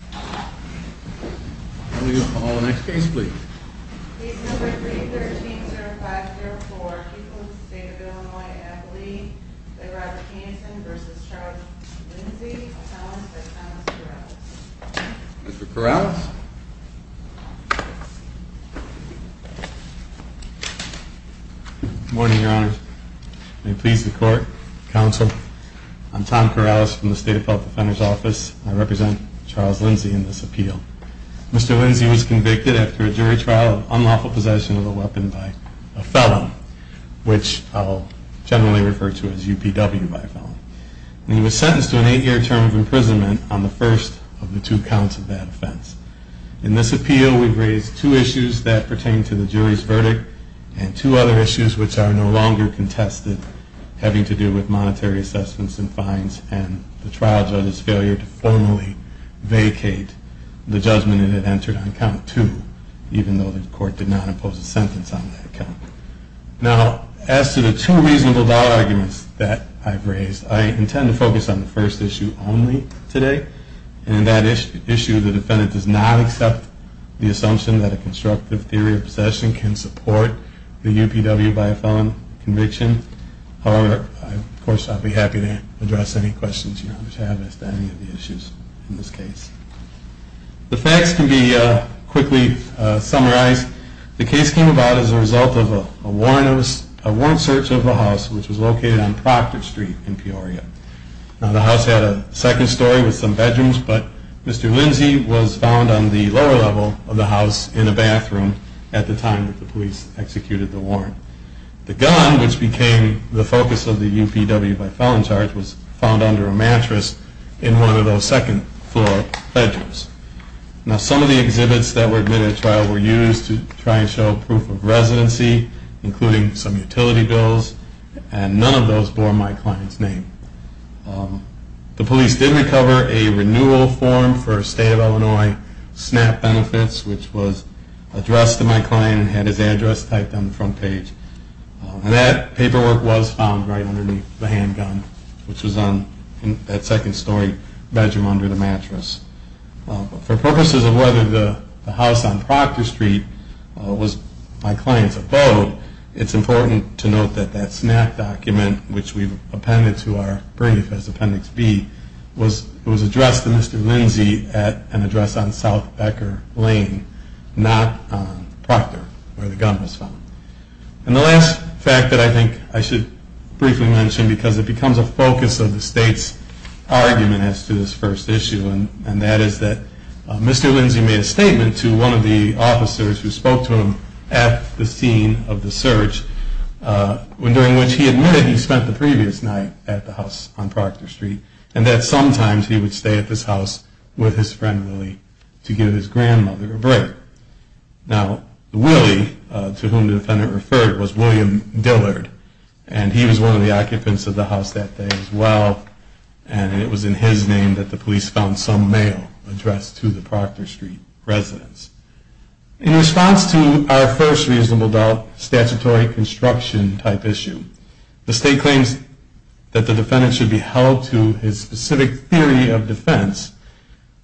Mr. Corrales? Good morning, Your Honors. May it please the Court, Counsel, I'm Tom Corrales from the State Appellate Defender's Office. I represent Charles Lindsay, in this appeal. Mr. Lindsay was convicted after a jury trial of unlawful possession of a weapon by a felon, which I'll generally refer to as UPW by felon. He was sentenced to an eight-year term of imprisonment on the first of the two counts of that offense. In this appeal, we've raised two issues that pertain to the jury's judgment it had entered on count two, even though the Court did not impose a sentence on that count. Now, as to the two reasonable dollar arguments that I've raised, I intend to focus on the first issue only today. And in that issue, the defendant does not accept the assumption that a constructive theory of possession can support the UPW by a felon conviction. However, of course, I'll be happy to address any questions you have as to any of the issues in this case. The facts can be quickly summarized. The case came about as a result of a warrant search of a house, which was located on Proctor Street in Peoria. Now, the house had a second story with some bedrooms, but Mr. Lindsay was found on the lower level of the house in a bathroom at the time that the police executed the warrant. The gun, which became the focus of the UPW by felon charge, was found under a mattress in one of those second-floor bedrooms. Now, some of the exhibits that were admitted at trial were used to try and show proof of residency, including some utility bills, and none of those bore my client's name. The police did recover a renewal form for State of Illinois SNAP benefits, which was addressed to my client and had his address typed on the front page. That paperwork was found right underneath the handgun, which was on that second-story bedroom under the mattress. For purposes of whether the house on Proctor Street was my client's abode, it's important to note that that SNAP document, which we've appended to our brief as Appendix B, was addressed to Mr. Lindsay at an address on South Becker Lane, not on Proctor, where the gun was found. And the last fact that I think I should briefly mention, because it becomes a focus of the State's argument as to this first issue, and that is that Mr. Lindsay made a statement to one of the officers who spoke to him at the scene of the search, during which he admitted he spent the previous night at the house on Proctor Street, and that sometimes he would stay at this house with his friend Willie to give his grandmother a break. Now, Willie, to whom the defendant referred, was William Dillard, and he was one of the occupants of the house that day as well, and it was in his name that the police found some mail addressed to the Proctor Street residents. In response to our first reasonable doubt statutory construction type issue, the State claims that the defendant should be held to his specific theory of defense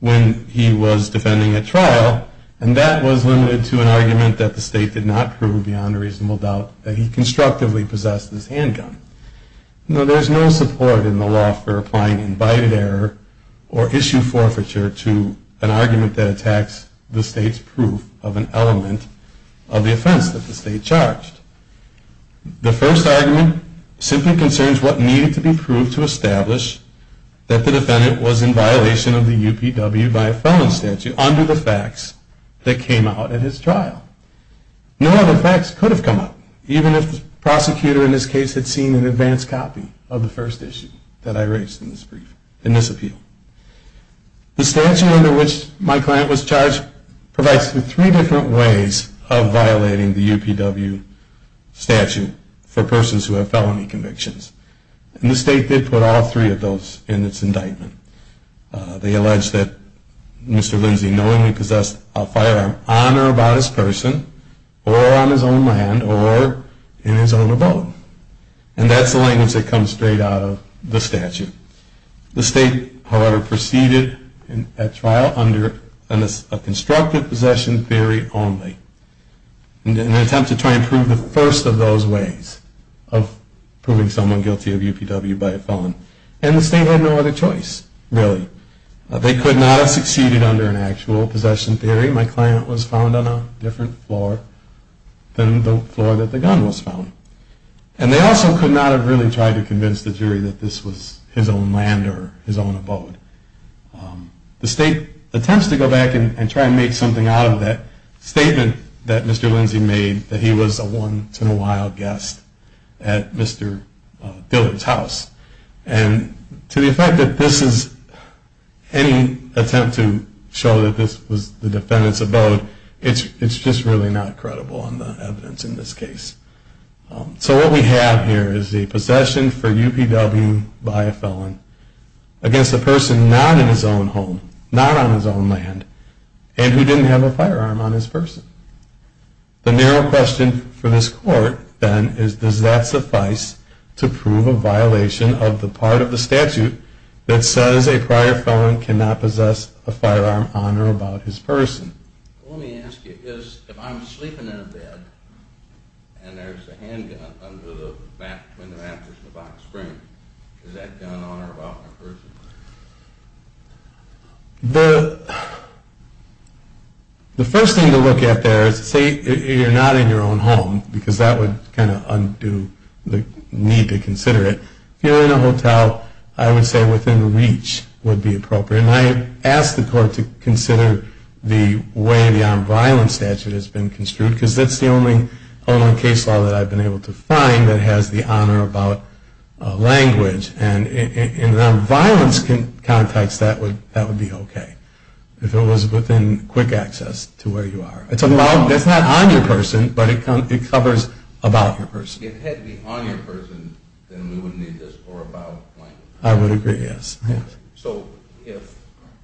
when he was defending at trial, and that was limited to an argument that the State did not prove beyond a reasonable doubt that he constructively possessed this handgun. Now, there is no support in the law for applying invited error or issue forfeiture to an argument that attacks the State's proof of an element of the offense that the State charged. The first argument simply concerns what needed to be proved to establish that the defendant was in violation of the UPW by a felon statute under the facts that came out at his trial. No other facts could have come up, even if the prosecutor in this case had seen an advanced copy of the first issue that I raised in this appeal. The statute under which my client was charged provides three different ways of violating the UPW statute for persons who have felony convictions, and the State did put all three of those in its indictment. They allege that Mr. Lindsay knowingly possessed a firearm on or about his person, or on his own land, or in his own abode. And that's the language that comes straight out of the statute. The State, however, proceeded at trial under a constructive possession theory only, in an attempt to try and prove the first of those ways of proving someone guilty of UPW by a felon. And the State had no other choice, really. They could not have succeeded under an actual possession theory. My client was found on a different floor than the floor that the gun was found. And they also could not have really tried to convince the jury that this was his own land or his own abode. The State attempts to go back and try and make something out of that statement that Mr. Lindsay made, that he was a once-in-a-while guest at Mr. Dillard's house. And to the effect that this is any attempt to show that this was the defendant's abode, it's just really not credible in the evidence in this case. So what we have here is the possession for UPW by a felon against a person not in his own home, not on his own land, and who didn't have a firearm on his person. The narrow question for this court, then, is does that suffice to prove a violation of the part of the statute that says a prior felon cannot possess a firearm on or about his person? Let me ask you, if I'm sleeping in a bed and there's a handgun between the mattress and the box frame, is that gun on or about my person? The first thing to look at there is to say you're not in your own home, because that would kind of undo the need to consider it. If you're in a hotel, I would say within reach would be appropriate. And I ask the court to consider the way the nonviolence statute has been construed, because that's the only case law that I've been able to find that has the honor about language. And in the nonviolence context, that would be okay. If it was within quick access to where you are. That's not on your person, but it covers about your person. If it had to be on your person, then we wouldn't need this or about language. I would agree, yes. So if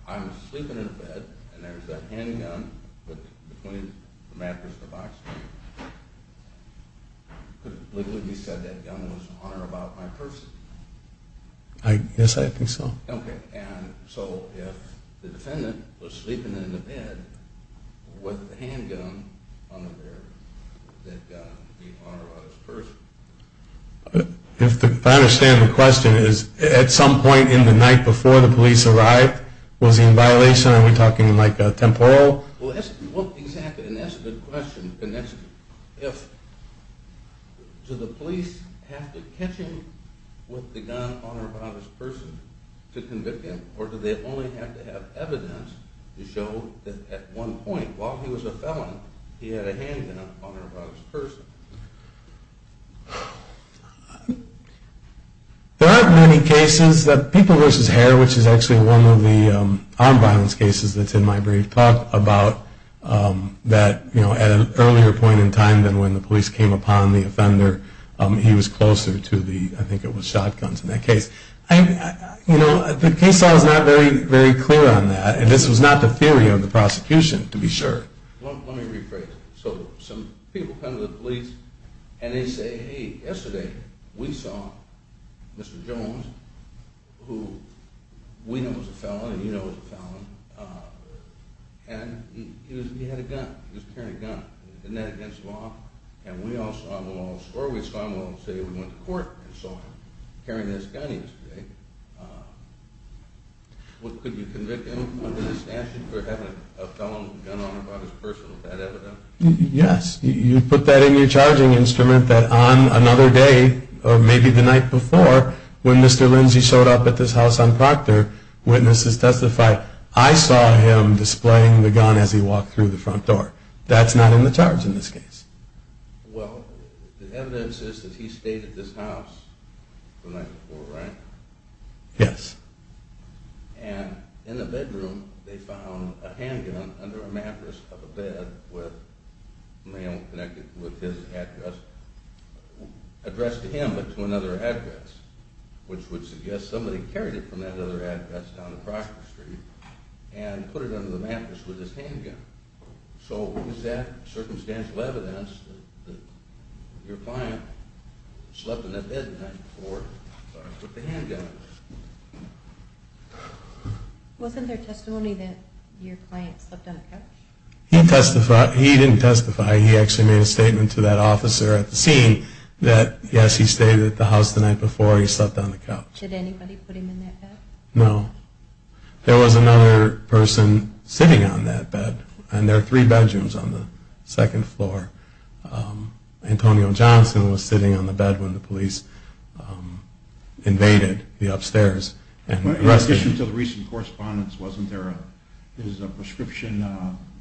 I'm sleeping in a bed and there's a handgun between the mattress and the box frame, could it legally be said that gun was on or about my person? Yes, I think so. Okay, and so if the defendant was sleeping in the bed with the handgun on the bed, would that gun be on or about his person? If I understand the question, is at some point in the night before the police arrived, was he in violation? Are we talking like temporal? Well, that's exactly, and that's a good question. And that's if, do the police have to catch him with the gun on or about his person to convict him? Or do they only have to have evidence to show that at one point while he was a felon, he had a handgun on or about his person? There aren't many cases that people versus hair, which is actually one of the armed violence cases that's in my brief talk about that, you know, at an earlier point in time than when the police came upon the offender, he was closer to the, I think it was shotguns in that case. You know, the case law is not very clear on that, and this was not the theory of the prosecution, to be sure. Let me rephrase it. So some people come to the police and they say, hey, yesterday we saw Mr. Jones, who we know is a felon and you know is a felon, and he had a gun, he was carrying a gun. Isn't that against law? And we all saw him, or we saw him, we'll say we went to court and saw him carrying this gun yesterday. Could you convict him under this statute for having a felon gun on or about his person with that evidence? Yes. You put that in your charging instrument that on another day, or maybe the night before, when Mr. Lindsay showed up at this house on Proctor, witnesses testified, I saw him displaying the gun as he walked through the front door. That's not in the charge in this case. Well, the evidence is that he stayed at this house the night before, right? Yes. And in the bedroom, they found a handgun under a mattress of a bed with a man connected with his headdress, addressed to him but to another headdress, which would suggest somebody carried it from that other headdress down to Proctor Street and put it under the mattress with his handgun. So what was that circumstantial evidence that your client slept in that bed the night before, or put the handgun? Wasn't there testimony that your client slept on the couch? He didn't testify. He actually made a statement to that officer at the scene that, yes, he stayed at the house the night before. He slept on the couch. Did anybody put him in that bed? No. There was another person sitting on that bed. And there are three bedrooms on the second floor. Antonio Johnson was sitting on the bed when the police invaded the upstairs and arrested him. In addition to the recent correspondence, wasn't there a prescription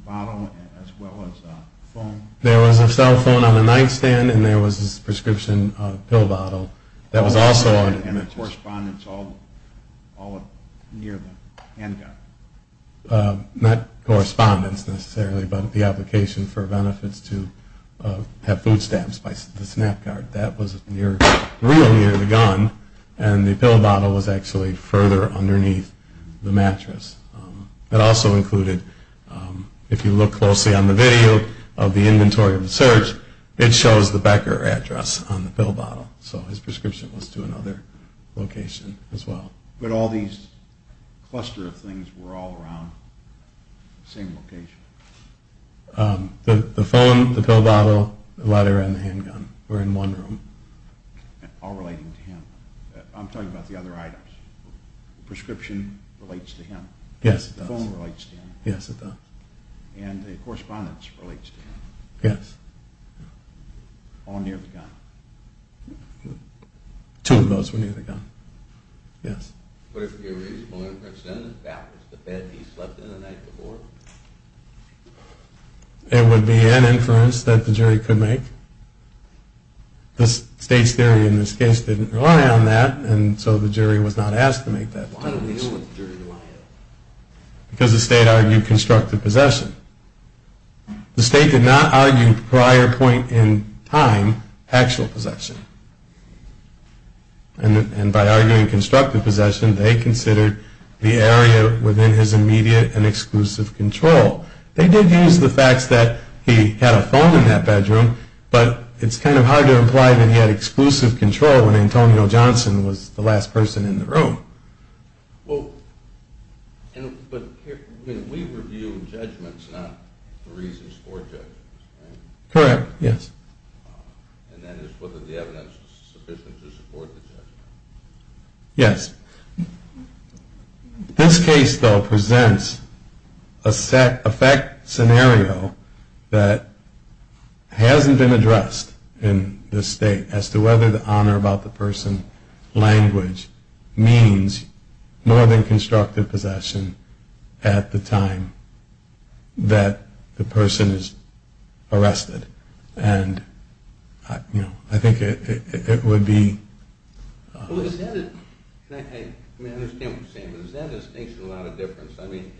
bottle as well as a phone? There was a cell phone on the nightstand and there was a prescription pill bottle. And the correspondence all near the handgun? Not correspondence necessarily, but the application for benefits to have food stamps by the SNAP card. That was real near the gun and the pill bottle was actually further underneath the mattress. It also included, if you look closely on the video of the inventory of the search, it shows the Becker address on the pill bottle. So his prescription was to another location as well. But all these cluster of things were all around the same location? The phone, the pill bottle, the letter, and the handgun were in one room. All relating to him. I'm talking about the other items. The prescription relates to him. Yes, it does. The phone relates to him. Yes, it does. And the correspondence relates to him. Yes. All near the gun. Two of those were near the gun. Yes. But if you're reasonable inference then that was the bed he slept in the night before? It would be an inference that the jury could make. The state's theory in this case didn't rely on that and so the jury was not asked to make that conclusion. Why didn't they know what the jury relied on? Because the state argued constructive possession. The state did not argue prior point in time actual possession. And by arguing constructive possession, they considered the area within his immediate and exclusive control. They did use the fact that he had a phone in that bedroom, but it's kind of hard to imply that he had exclusive control when Antonio Johnson was the last person in the room. Well, but we review judgments not the reasons for judgments, right? Correct, yes. And that is whether the evidence is sufficient to support the judgment. Yes. This case, though, presents a fact scenario that hasn't been addressed in this state as to whether the honor about the person language means more than constructive possession at the time that the person is arrested. And, you know, I think it would be... Well, is that... I mean, I understand what you're saying, but is that distinction a lot of difference? I mean,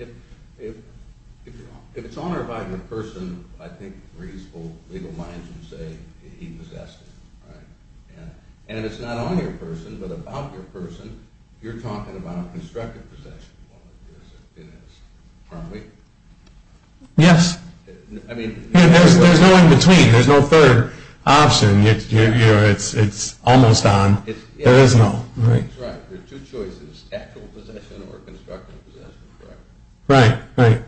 if it's honor about the person, I think reasonable legal minds would say he possessed him, right? And if it's not on your person, but about your person, you're talking about constructive possession. Well, it is. Aren't we? Yes. I mean... There's no in between. There's no third option. You know, it's almost on. There is no, right? I think it's right. There are two choices, actual possession or constructive possession, correct? Right, right.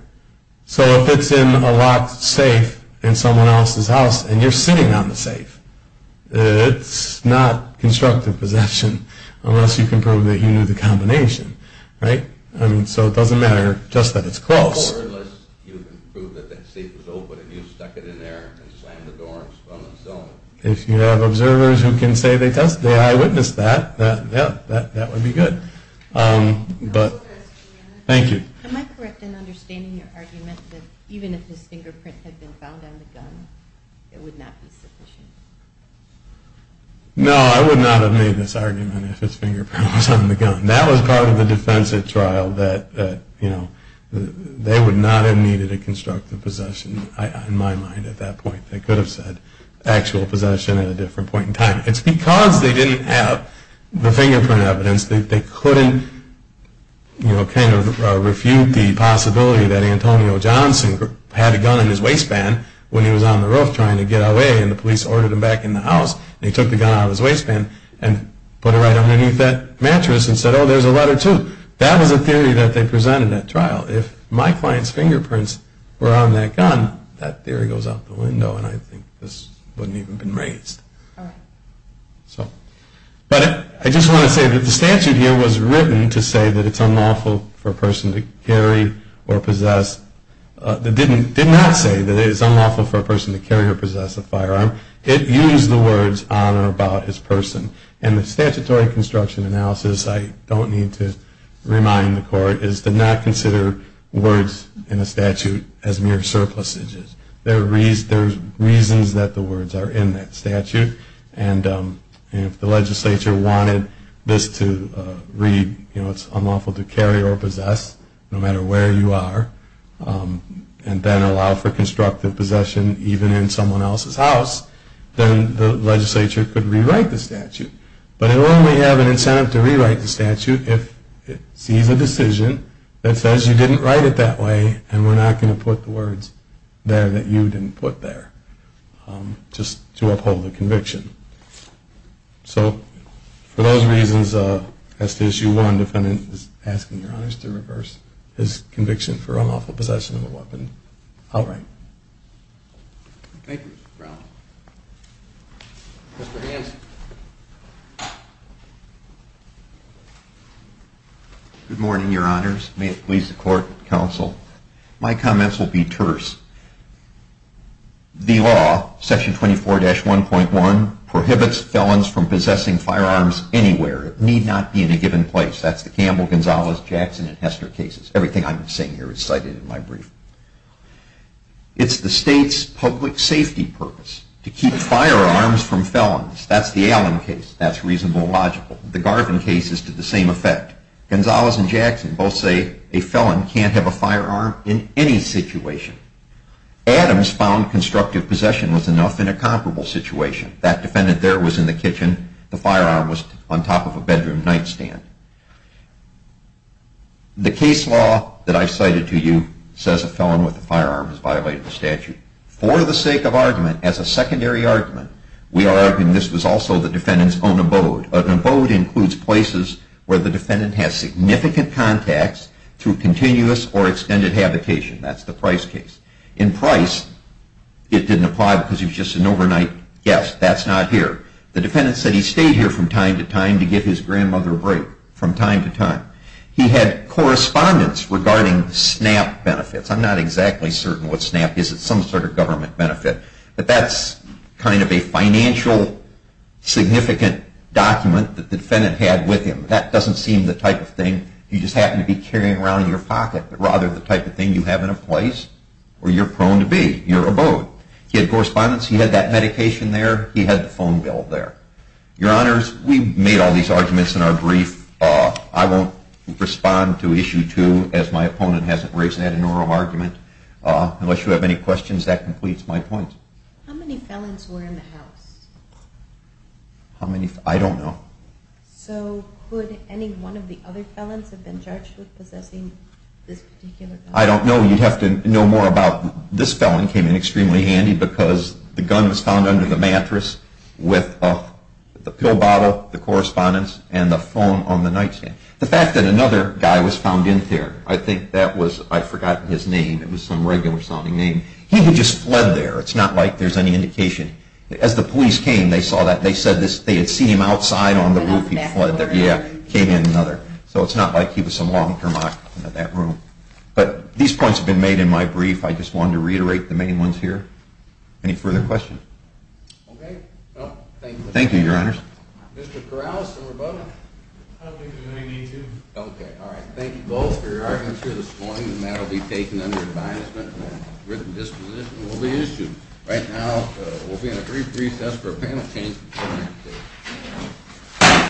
So if it's in a locked safe in someone else's house and you're sitting on the safe, it's not constructive possession unless you can prove that you knew the combination, right? I mean, so it doesn't matter just that it's close. Or unless you can prove that that safe was open and you stuck it in there and slammed the door and spun the cell. If you have observers who can say they eyewitnessed that, that would be good. Thank you. Am I correct in understanding your argument that even if his fingerprint had been found on the gun, it would not be sufficient? No, I would not have made this argument if his fingerprint was on the gun. That was part of the defensive trial that, you know, they would not have needed a constructive possession in my mind at that point. They could have said actual possession at a different point in time. It's because they didn't have the fingerprint evidence that they couldn't, you know, kind of refute the possibility that Antonio Johnson had a gun in his waistband when he was on the roof trying to get away and the police ordered him back in the house and he took the gun out of his waistband and put it right underneath that mattress and said, oh, there's a letter too. That was a theory that they presented at trial. If my client's fingerprints were on that gun, that theory goes out the window and I think this wouldn't even have been raised. But I just want to say that the statute here was written to say that it's unlawful for a person to carry or possess, did not say that it is unlawful for a person to carry or possess a firearm. It used the words on or about his person. And the statutory construction analysis, I don't need to remind the court, is to not consider words in a statute as mere surpluses. There's reasons that the words are in that statute and if the legislature wanted this to read, you know, it's unlawful to carry or possess no matter where you are and then allow for constructive possession even in someone else's house, then the legislature could rewrite the statute. But it would only have an incentive to rewrite the statute if it sees a decision that says you didn't write it that way and we're not going to put the words there that you didn't put there just to uphold the conviction. So for those reasons, that's issue one. The defendant is asking Your Honors to reverse his conviction for unlawful possession of a weapon outright. Thank you, Mr. Brown. Mr. Hanson. Good morning, Your Honors. May it please the court, counsel. My comments will be terse. The law, section 24-1.1, prohibits felons from possessing firearms anywhere. It need not be in a given place. That's the Campbell, Gonzalez, Jackson, and Hester cases. Everything I'm saying here is cited in my brief. It's the state's public safety purpose to keep firearms from felons. That's the Allen case. That's reasonable and logical. The Garvin case is to the same effect. Gonzalez and Jackson both say a felon can't have a firearm in any situation. Adams found constructive possession was enough in a comparable situation. That defendant there was in the kitchen. The firearm was on top of a bedroom nightstand. The case law that I've cited to you says a felon with a firearm is violating the statute. For the sake of argument, as a secondary argument, we are arguing this was also the defendant's own abode. An abode includes places where the defendant has significant contacts through continuous or extended habitation. That's the Price case. In Price, it didn't apply because he was just an overnight guest. That's not here. The defendant said he stayed here from time to time to give his grandmother a break, from time to time. He had correspondence regarding SNAP benefits. I'm not exactly certain what SNAP is. It's some sort of government benefit. But that's kind of a financial significant document that the defendant had with him. That doesn't seem the type of thing you just happen to be carrying around in your pocket, but rather the type of thing you have in a place where you're prone to be, your abode. He had correspondence. He had that medication there. He had the phone bill there. Your Honors, we made all these arguments in our brief. I won't respond to Issue 2, as my opponent hasn't raised that in an oral argument. Unless you have any questions, that completes my point. How many felons were in the house? I don't know. So could any one of the other felons have been judged with possessing this particular gun? I don't know. You'd have to know more about it. This felon came in extremely handy because the gun was found under the mattress with the pill bottle, the correspondence, and the phone on the nightstand. The fact that another guy was found in there, I think that was, I forgot his name. It was some regular-sounding name. He had just fled there. It's not like there's any indication. As the police came, they saw that. They said they had seen him outside on the roof. He fled there. Yeah, came in another. So it's not like he was some long-term occupant of that room. But these points have been made in my brief. I just wanted to reiterate the main ones here. Any further questions? Okay. Thank you. Thank you, Your Honors. Mr. Corrales and Roboto. I don't think there's any need to. Okay. All right. Thank you both for your arguments here this morning. The matter will be taken under advisement. A written disposition will be issued. Right now, we'll be in a brief recess for a panel change.